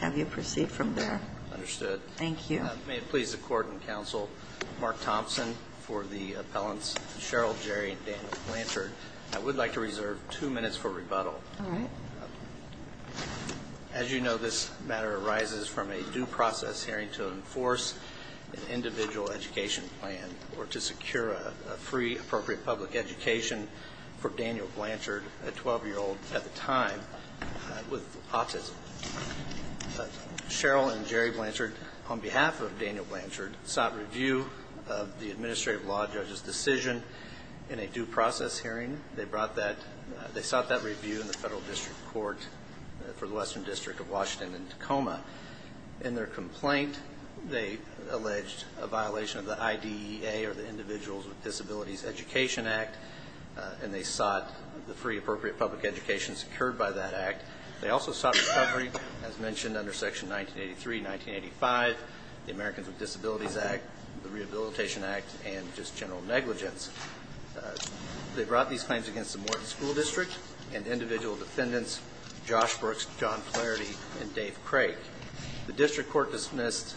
May it please the Court and Counsel, Mark Thompson for the appellants Cheryl Jerry and Daniel Blanchard. I would like to reserve two minutes for rebuttal. As you know this matter arises from a due process hearing to enforce an individual education plan or to secure a free appropriate public education for Daniel Blanchard, a 12-year-old at the time with autism. Cheryl and Jerry Blanchard on behalf of Daniel Blanchard sought review of the administrative law judge's decision in a due process hearing. They sought that review in the Federal District Court for the Western District of Washington in Tacoma. In their complaint they alleged a violation of the IDEA or the Individuals with Disabilities Education Act and they sought the free appropriate public education secured by that act. They also sought recovery as mentioned under Section 1983, 1985, the Americans with Disabilities Act, the Rehabilitation Act and just general negligence. They brought these claims against the Morton School District and individual defendants Josh Brooks, John Flaherty and Dave Craig. The District Court dismissed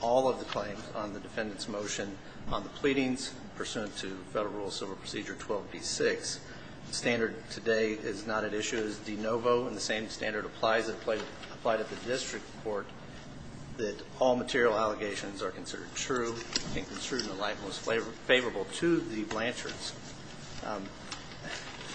all of the claims on the defendant's motion on the pleadings pursuant to Federal Rule Civil Procedure 12b-6. The standard today is not at issue. It is de novo and the same standard applies at the District Court that all material allegations are considered true and construed in the light most favorable to the Blanchards.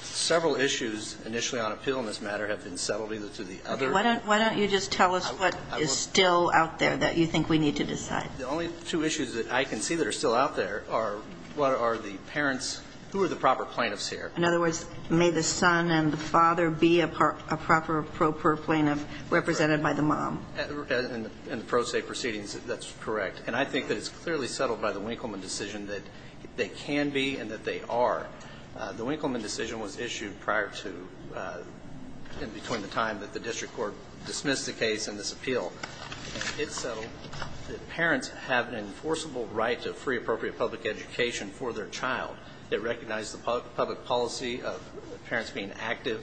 Several issues initially on appeal in this matter have been settled either to the other. Why don't you just tell us what is still out there that you think we need to decide? The only two issues that I can see that are still out there are what are the parents, who are the proper plaintiffs here? In other words, may the son and the father be a proper pro pro plaintiff represented by the mom? In the pro se proceedings, that's correct. And I think that it's clearly settled by the Winkleman decision that they can be and that they are. The Winkleman decision was issued prior to and between the time that the District Court dismissed the case and this appeal. It settled that parents have an enforceable right to free appropriate public education for their child. It recognized the public policy of parents being active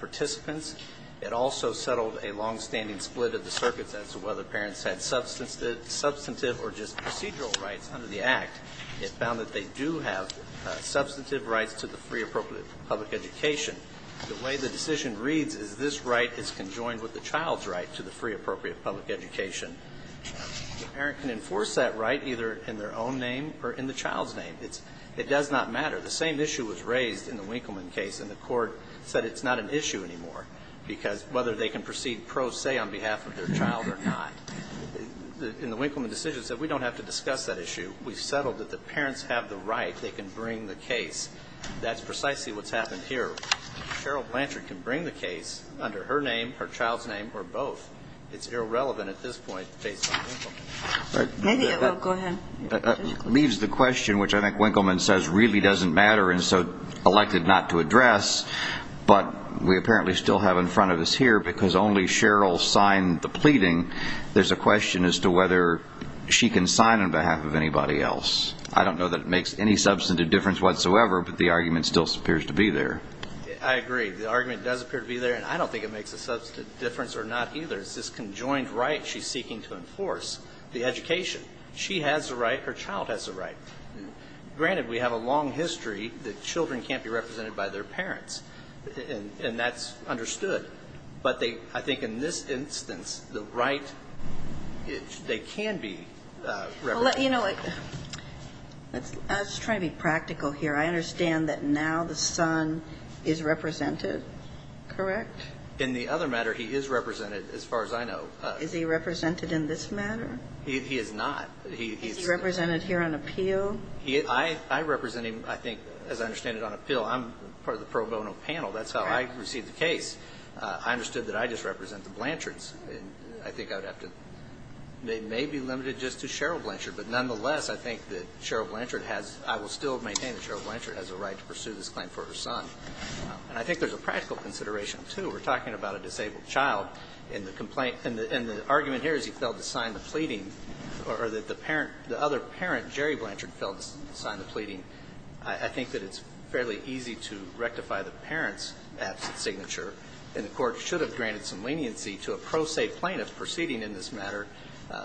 participants. It also settled a longstanding split of the circuits as to whether parents had substantive or just procedural rights under the Act. It found that they do have substantive rights to the free appropriate public education. The way the decision reads is this right is conjoined with the child's right to the free appropriate public education. The parent can enforce that right either in their own name or in the child's name. It does not matter. The same issue was raised in the Winkleman case, and the Court said it's not an issue anymore, because whether they can proceed pro se on behalf of their child or not. In the Winkleman decision, it said we don't have to discuss that issue. We've settled that the parents have the right. They can bring the case. That's precisely what's happened here. Cheryl Blanchard can bring the case under her name, her child's name, or both. It's irrelevant at this point based on Winkleman. Maybe it will. Go ahead. It leaves the question, which I think Winkleman says really doesn't matter and so elected not to address, but we apparently still have in front of us here, because only Cheryl signed the pleading, there's a question as to whether she can sign on behalf of anybody else. I don't know that it makes any substantive difference whatsoever, but the argument still appears to be there. I agree. The argument does appear to be there, and I don't think it makes a substantive difference or not either. It's this conjoined right she's seeking to enforce, the education. She has the right. Her child has the right. Granted, we have a long history that children can't be represented by their parents, and that's understood. But I think in this instance, the right, they can be represented. You know, I was trying to be practical here. I understand that now the son is represented, correct? In the other matter, he is represented as far as I know. Is he represented in this matter? He is not. Is he represented here on appeal? I represent him, I think, as I understand it, on appeal. I'm part of the pro bono panel. That's how I received the case. I understood that I just represent the Blanchards. And I think I would have to maybe limit it just to Cheryl Blanchard. But nonetheless, I think that Cheryl Blanchard has – I will still maintain that Cheryl Blanchard has a right to pursue this claim for her son. And I think there's a practical consideration, too. We're talking about a disabled child. And the complaint – and the argument here is he failed to sign the pleading, or that the parent – the other parent, Jerry Blanchard, failed to sign the pleading. I think that it's fairly easy to rectify the parent's absent signature. And the court should have granted some leniency to a pro se plaintiff proceeding in this matter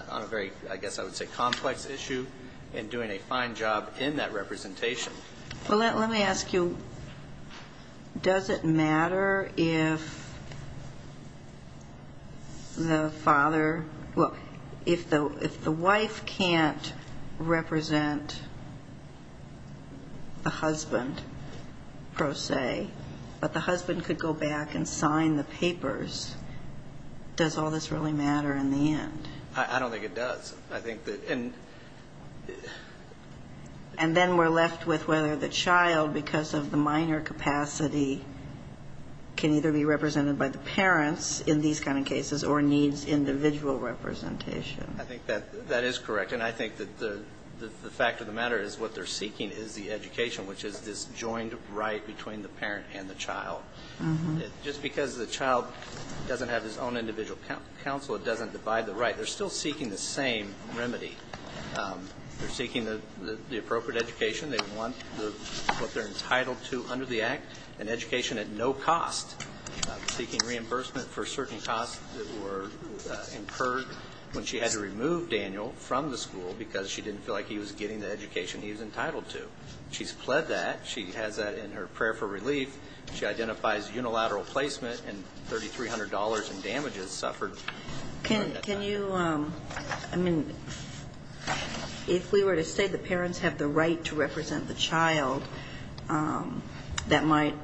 on a very, I guess I would say, complex issue and doing a fine job in that representation. Well, let me ask you, does it matter if the father – well, if the wife can't represent the husband pro se, but the husband could go back and sign the papers, does all this really matter in the end? I don't think it does. I think that – and – And then we're left with whether the child, because of the minor capacity, can either be represented by the parents in these kind of cases or needs individual representation. I think that that is correct. And I think that the fact of the matter is what they're seeking is the education, which is this joined right between the parent and the child. Just because the child doesn't have his own individual counsel, it doesn't divide the right. They're still seeking the same remedy. They're seeking the appropriate education. They want what they're entitled to under the Act, an education at no cost. Seeking reimbursement for certain costs that were incurred when she had to remove Daniel from the school because she didn't feel like he was getting the education he was entitled to. She's pled that. She has that in her prayer for relief. She identifies unilateral placement and $3,300 in damages suffered. Can you – I mean, if we were to say the parents have the right to represent the child, that might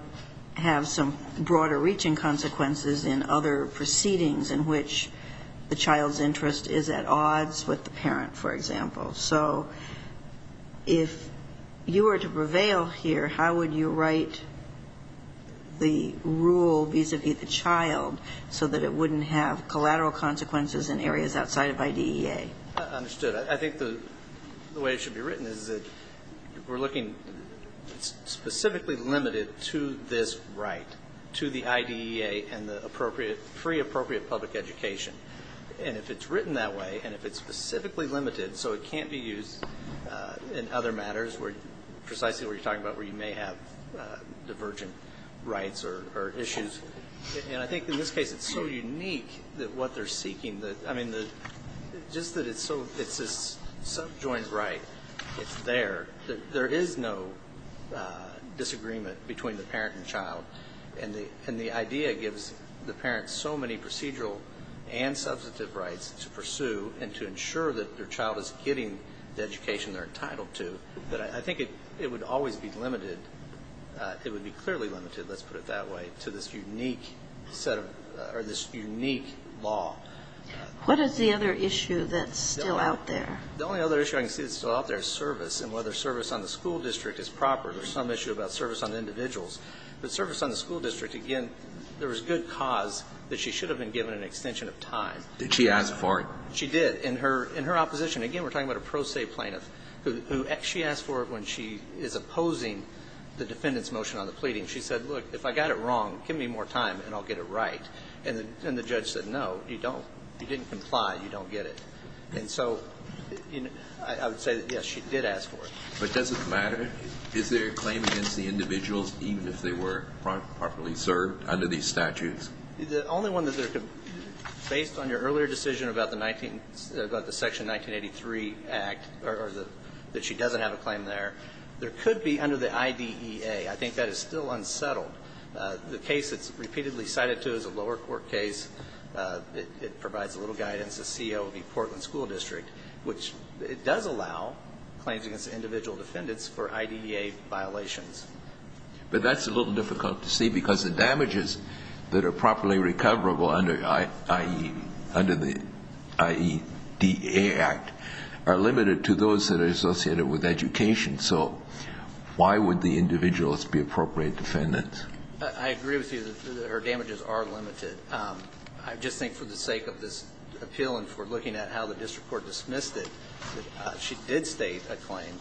have some broader reaching consequences in other proceedings in which the child's interest is at odds with the parent, for example. So if you were to prevail here, how would you write the rule vis-à-vis the child so that it wouldn't have collateral consequences in areas outside of IDEA? I understood. I think the way it should be written is that we're looking specifically limited to this right, to the IDEA and the free appropriate public education. And if it's written that way and if it's specifically limited so it can't be used in other matters precisely what you're talking about where you may have divergent rights or issues. And I think in this case it's so unique what they're seeking. I mean, just that it's this subjoined right. It's there. There is no disagreement between the parent and child. And the IDEA gives the parent so many procedural and substantive rights to pursue and to ensure that their child is getting the education they're entitled to that I think it would always be limited. It would be clearly limited, let's put it that way, to this unique law. What is the other issue that's still out there? The only other issue I can see that's still out there is service and whether service on the school district is proper. There's some issue about service on individuals. But service on the school district, again, there is good cause that she should have been given an extension of time. Did she ask for it? She did. In her opposition, again, we're talking about a pro se plaintiff who she asked for it when she is opposing the defendant's motion on the pleading. She said, look, if I got it wrong, give me more time and I'll get it right. And the judge said, no, you don't. You didn't comply. You don't get it. And so I would say, yes, she did ask for it. But does it matter? Is there a claim against the individuals, even if they were properly served under these statutes? The only one that there could be, based on your earlier decision about the Section 1983 Act, or that she doesn't have a claim there, there could be under the IDEA. I think that is still unsettled. The case that's repeatedly cited, too, is a lower court case. It provides a little guidance, the COV, Portland School District, which it does allow claims against individual defendants for IDEA violations. But that's a little difficult to see, because the damages that are properly recoverable under the IDEA Act are limited to those that are associated with education. So why would the individuals be appropriate defendants? I agree with you that her damages are limited. I just think for the sake of this appeal and for looking at how the district court dismissed it, she did state a claim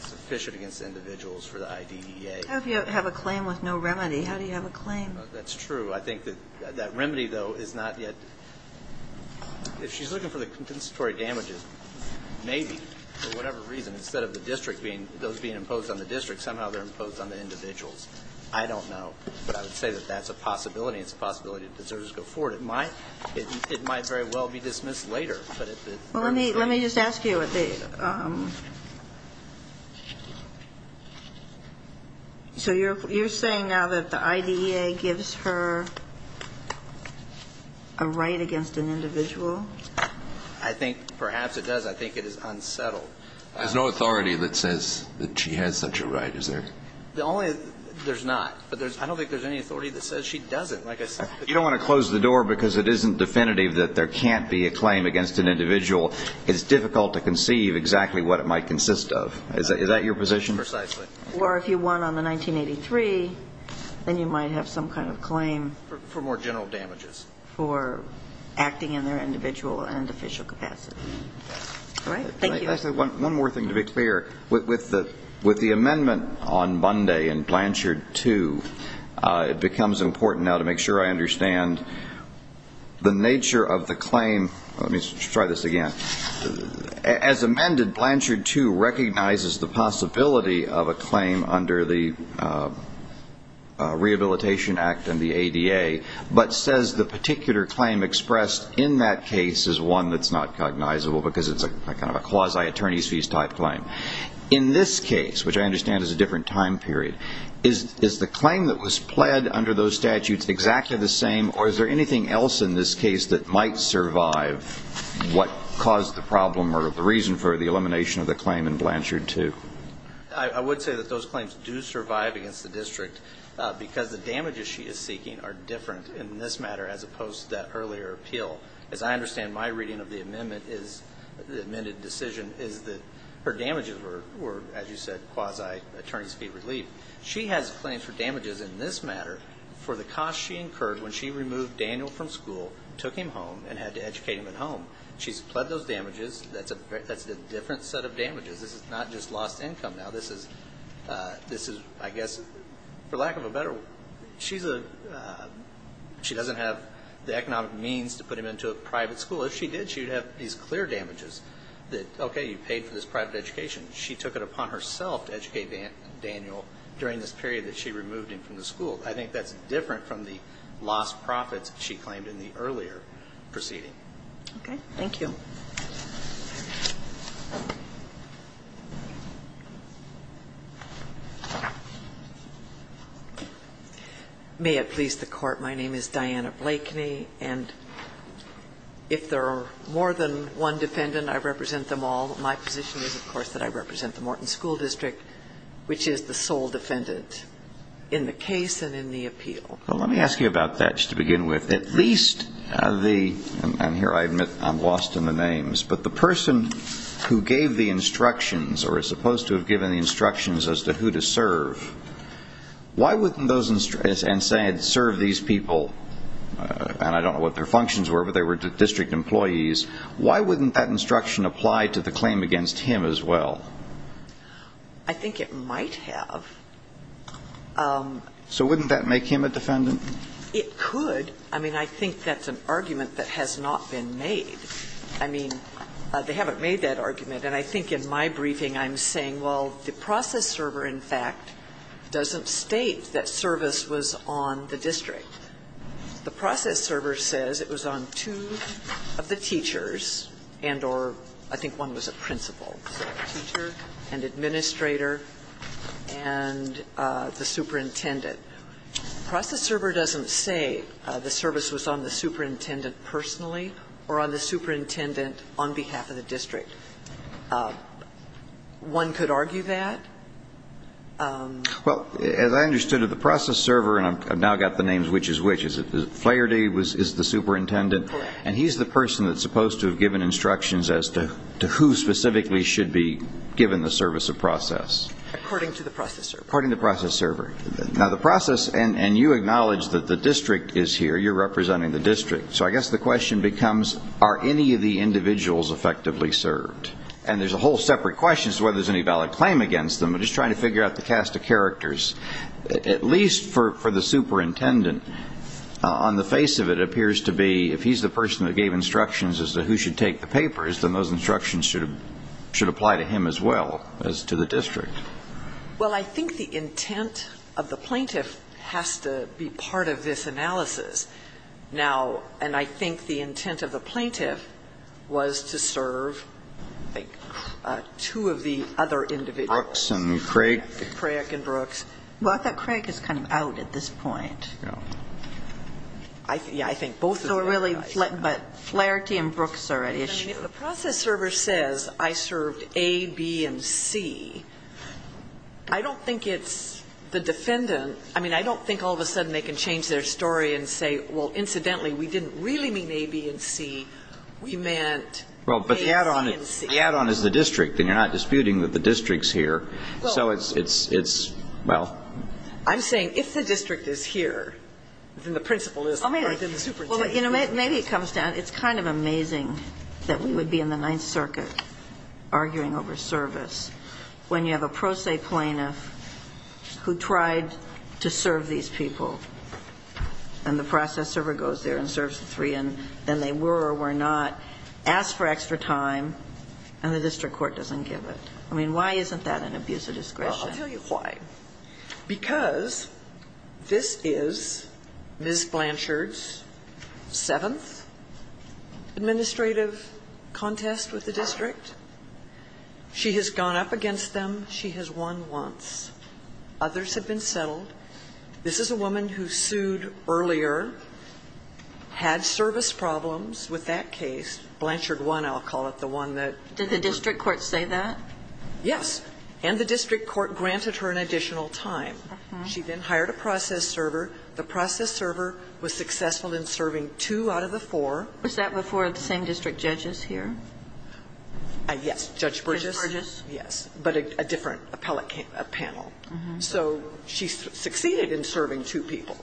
sufficient against individuals for the IDEA. How do you have a claim with no remedy? How do you have a claim? That's true. I think that that remedy, though, is not yet... If she's looking for the compensatory damages, maybe, for whatever reason, instead of those being imposed on the district, somehow they're imposed on the individuals. I don't know. But I would say that that's a possibility. It's a possibility that deserves to go forward. It might very well be dismissed later. Well, let me just ask you. So you're saying now that the IDEA gives her a right against an individual? I think perhaps it does. I think it is unsettled. There's no authority that says that she has such a right, is there? The only... There's not. I don't think there's any authority that says she doesn't. You don't want to close the door because it isn't definitive that there can't be a claim against an individual. It's difficult to conceive exactly what it might consist of. Is that your position? Precisely. Or if you won on the 1983, then you might have some kind of claim... For more general damages. For acting in their individual and official capacity. All right? Thank you. One more thing to be clear. With the amendment on Monday in Blanchard 2, it becomes important now to make sure I understand the nature of the claim. Let me try this again. As amended, Blanchard 2 recognizes the possibility of a claim under the Rehabilitation Act and the ADA, but says the particular claim expressed in that case is one that's not cognizable because it's kind of a quasi-attorney's fees type claim. In this case, which I understand is a different time period, is the claim that was pled under those statutes exactly the same, or is there anything else in this case that might survive what caused the problem or the reason for the elimination of the claim in Blanchard 2? I would say that those claims do survive against the district because the damages she is seeking are different in this matter as opposed to that earlier appeal. As I understand, my reading of the amended decision is that her damages were, as you said, quasi-attorney's fee relief. She has claims for damages in this matter for the cost she incurred when she removed Daniel from school, took him home, and had to educate him at home. She's pled those damages. That's a different set of damages. This is not just lost income. Now, this is, I guess, for lack of a better word, she doesn't have the economic means to put him into a private school. If she did, she would have these clear damages that, okay, you paid for this private education. She took it upon herself to educate Daniel during this period that she removed him from the school. I think that's different from the lost profits she claimed in the earlier proceeding. Okay. Thank you. May it please the Court. My name is Diana Blakeney. And if there are more than one defendant, I represent them all. My position is, of course, that I represent the Morton School District, which is the sole defendant in the case and in the appeal. Well, let me ask you about that, just to begin with. At least the, and here I admit I'm lost in the names, but the person who gave the instructions or is supposed to have given the instructions as to who to serve, why wouldn't those, and saying serve these people, and I don't know what their functions were, but they were district employees, why wouldn't that instruction apply to the claim against him as well? I think it might have. So wouldn't that make him a defendant? It could. I mean, I think that's an argument that has not been made. I mean, they haven't made that argument. And I think in my briefing I'm saying, well, the process server, in fact, doesn't state that service was on the district. The process server says it was on two of the teachers and or I think one was a principal, so a teacher, an administrator, and the superintendent. The process server doesn't say the service was on the superintendent personally or on the superintendent on behalf of the district. One could argue that. Well, as I understood it, the process server, and I've now got the names which is which, is it Flaherty is the superintendent? Correct. And he's the person that's supposed to have given instructions as to who specifically should be given the service of process. According to the process server. According to the process server. Now, the process, and you acknowledge that the district is here, you're representing the district. So I guess the question becomes, are any of the individuals effectively served? And there's a whole separate question as to whether there's any valid claim against them. I'm just trying to figure out the cast of characters. At least for the superintendent, on the face of it, it appears to be if he's the person that gave instructions as to who should take the papers, then those instructions should apply to him as well as to the district. Well, I think the intent of the plaintiff has to be part of this analysis. Now, and I think the intent of the plaintiff was to serve, I think, two of the other individuals. Brooks and Craik. Craik and Brooks. Well, I thought Craik is kind of out at this point. Yeah. Yeah, I think both of them are out. But Flaherty and Brooks are at issue. I mean, if the process server says I served A, B, and C, I don't think it's the defendant. I mean, I don't think all of a sudden they can change their story and say, well, incidentally, we didn't really mean A, B, and C. We meant A, C, and C. Well, but the add-on is the district, and you're not disputing that the district's here. So it's, well. I'm saying if the district is here, then the principal is, or then the superintendent is. Well, you know, maybe it comes down, it's kind of amazing that we would be in the Ninth Circuit arguing over service when you have a pro se plaintiff who tried to serve these people, and the process server goes there and serves the three, and then they were or were not asked for extra time, and the district court doesn't give it. I mean, why isn't that an abuse of discretion? Well, I'll tell you why. Because this is Ms. Blanchard's seventh administrative contest with the district. She has gone up against them. She has won once. Others have been settled. This is a woman who sued earlier, had service problems with that case. Blanchard won, I'll call it, the one that. Did the district court say that? Yes. And the district court granted her an additional time. She then hired a process server. The process server was successful in serving two out of the four. Was that before the same district judges here? Yes. Judge Burgess. Judge Burgess. Yes. But a different appellate panel. So she succeeded in serving two people.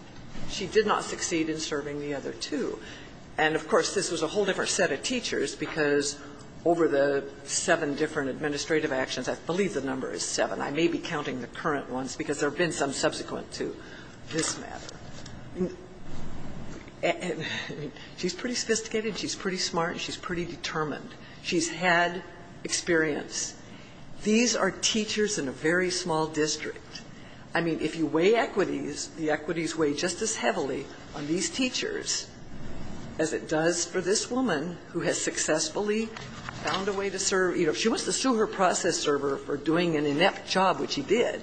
She did not succeed in serving the other two. And, of course, this was a whole different set of teachers because over the seven different administrative actions, I believe the number is seven. I may be counting the current ones because there have been some subsequent to this matter. She's pretty sophisticated. She's pretty smart. She's pretty determined. She's had experience. These are teachers in a very small district. I mean, if you weigh equities, the equities weigh just as heavily on these teachers as it does for this woman who has successfully found a way to serve. You know, if she wants to sue her process server for doing an inept job, which he did,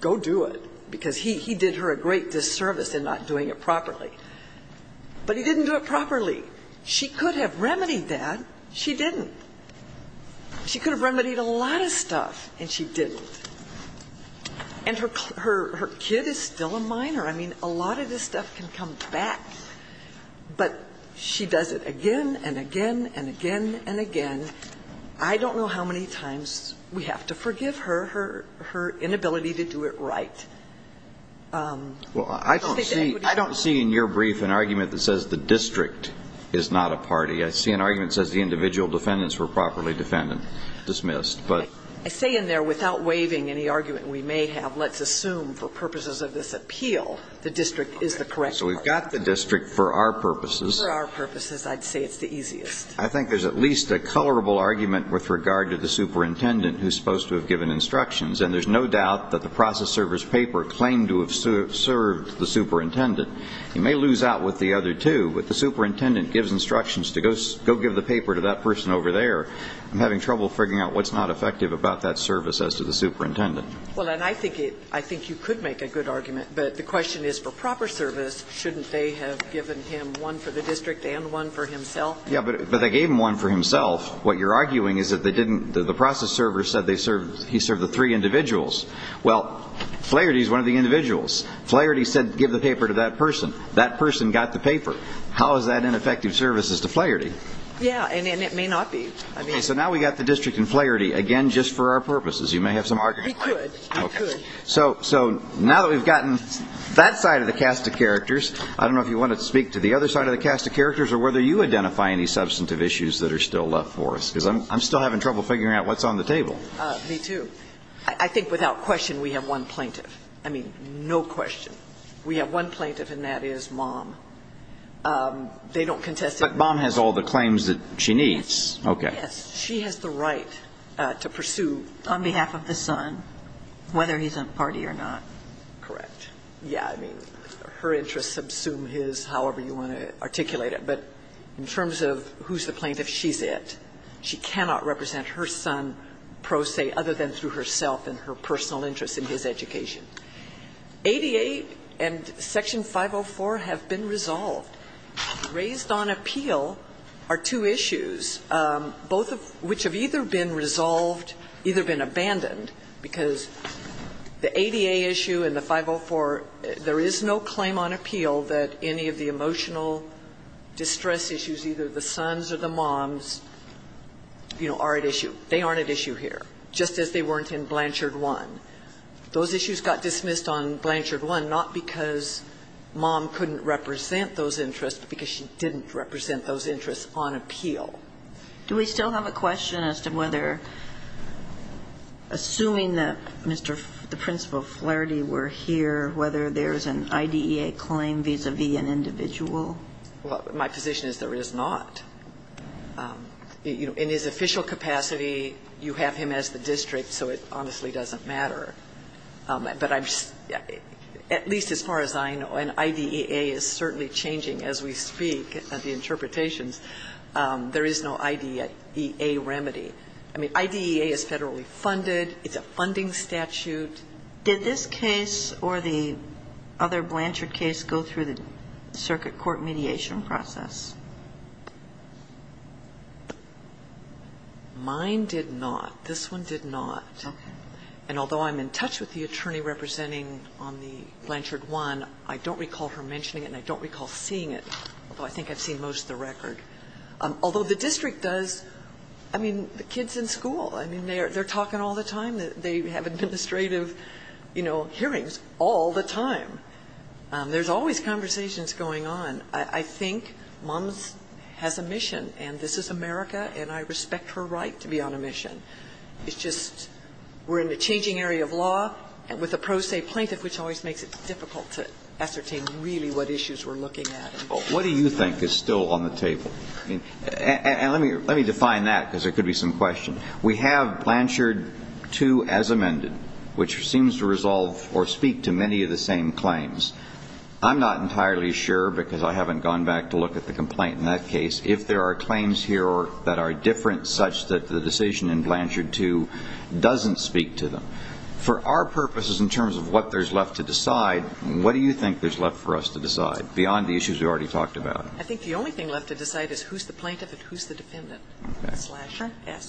go do it, because he did her a great disservice in not doing it properly. But he didn't do it properly. She could have remedied that. She didn't. She could have remedied a lot of stuff, and she didn't. And her kid is still a minor. I mean, a lot of this stuff can come back. But she does it again and again and again and again. I don't know how many times we have to forgive her, her inability to do it right. I don't see in your brief an argument that says the district is not a party. I see an argument that says the individual defendants were properly defended, dismissed. I say in there, without waiving any argument we may have, let's assume for purposes of this appeal, the district is the correct party. So we've got the district for our purposes. For our purposes, I'd say it's the easiest. I think there's at least a colorable argument with regard to the superintendent who's supposed to have given instructions. And there's no doubt that the process server's paper claimed to have served the superintendent. He may lose out with the other two. But the superintendent gives instructions to go give the paper to that person over there. I'm having trouble figuring out what's not effective about that service as to the superintendent. Well, and I think you could make a good argument. But the question is, for proper service, shouldn't they have given him one for the district and one for himself? Yeah, but they gave him one for himself. What you're arguing is that they didn't, the process server said he served the three individuals. Well, Flaherty's one of the individuals. Flaherty said give the paper to that person. That person got the paper. How is that ineffective services to Flaherty? Yeah, and it may not be. So now we've got the district and Flaherty, again, just for our purposes. You may have some arguments. We could. We could. So now that we've gotten that side of the cast of characters, I don't know if you want to speak to the other side of the cast of characters or whether you identify any substantive issues that are still left for us, because I'm still having trouble figuring out what's on the table. Me, too. I think without question we have one plaintiff. I mean, no question. We have one plaintiff, and that is Mom. They don't contest it. But Mom has all the claims that she needs. Okay. Yes, she has the right to pursue. On behalf of the son, whether he's a party or not. Correct. Yeah, I mean, her interests subsume his, however you want to articulate it. But in terms of who's the plaintiff, she's it. She cannot represent her son, pro se, other than through herself and her personal interests in his education. ADA and Section 504 have been resolved. Raised on appeal are two issues, both of which have either been resolved, either been abandoned, because the ADA issue and the 504, there is no claim on appeal that any of the emotional distress issues, either the sons or the moms, you know, are at issue. They aren't at issue here, just as they weren't in Blanchard 1. Those issues got dismissed on Blanchard 1 not because Mom couldn't represent those interests, but because she didn't represent those interests on appeal. Do we still have a question as to whether, assuming that Mr. the principal Flaherty were here, whether there's an IDEA claim vis-à-vis an individual? Well, my position is there is not. You know, in his official capacity, you have him as the district, so it honestly doesn't matter. But at least as far as I know, an IDEA is certainly changing as we speak at the interpretations. There is no IDEA remedy. I mean, IDEA is federally funded. It's a funding statute. Did this case or the other Blanchard case go through the circuit court mediation process? Mine did not. This one did not. Okay. And although I'm in touch with the attorney representing on the Blanchard 1, I don't recall her mentioning it and I don't recall seeing it, although I think I've seen most of the record. Although the district does, I mean, the kids in school, I mean, they're talking all the time. They have administrative, you know, hearings all the time. There's always conversations going on. I think Mom has a mission, and this is America, and I respect her right to be on a mission. It's just we're in a changing area of law with a pro se plaintiff, which always makes it difficult to ascertain really what issues we're looking at. What do you think is still on the table? And let me define that because there could be some question. We have Blanchard 2 as amended, which seems to resolve or speak to many of the same claims. I'm not entirely sure because I haven't gone back to look at the complaint in that case. If there are claims here that are different such that the decision in Blanchard 2 doesn't speak to them. For our purposes in terms of what there's left to decide, what do you think there's left for us to decide beyond the issues we already talked about? I think the only thing left to decide is who's the plaintiff and who's the dependent,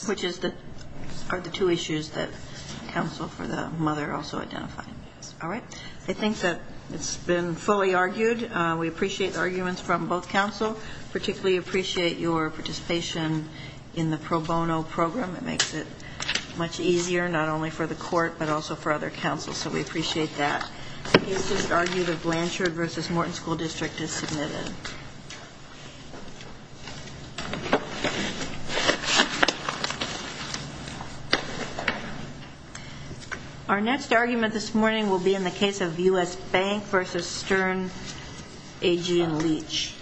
which are the two issues that counsel for the mother also identified. All right. I think that it's been fully argued. We appreciate the arguments from both counsel, particularly appreciate your participation in the pro bono program. It makes it much easier not only for the court but also for other counsels, so we appreciate that. It's just argued that Blanchard v. Morton School District is submitted. Our next argument this morning will be in the case of U.S. Bank v. Stern, Agee and Leach.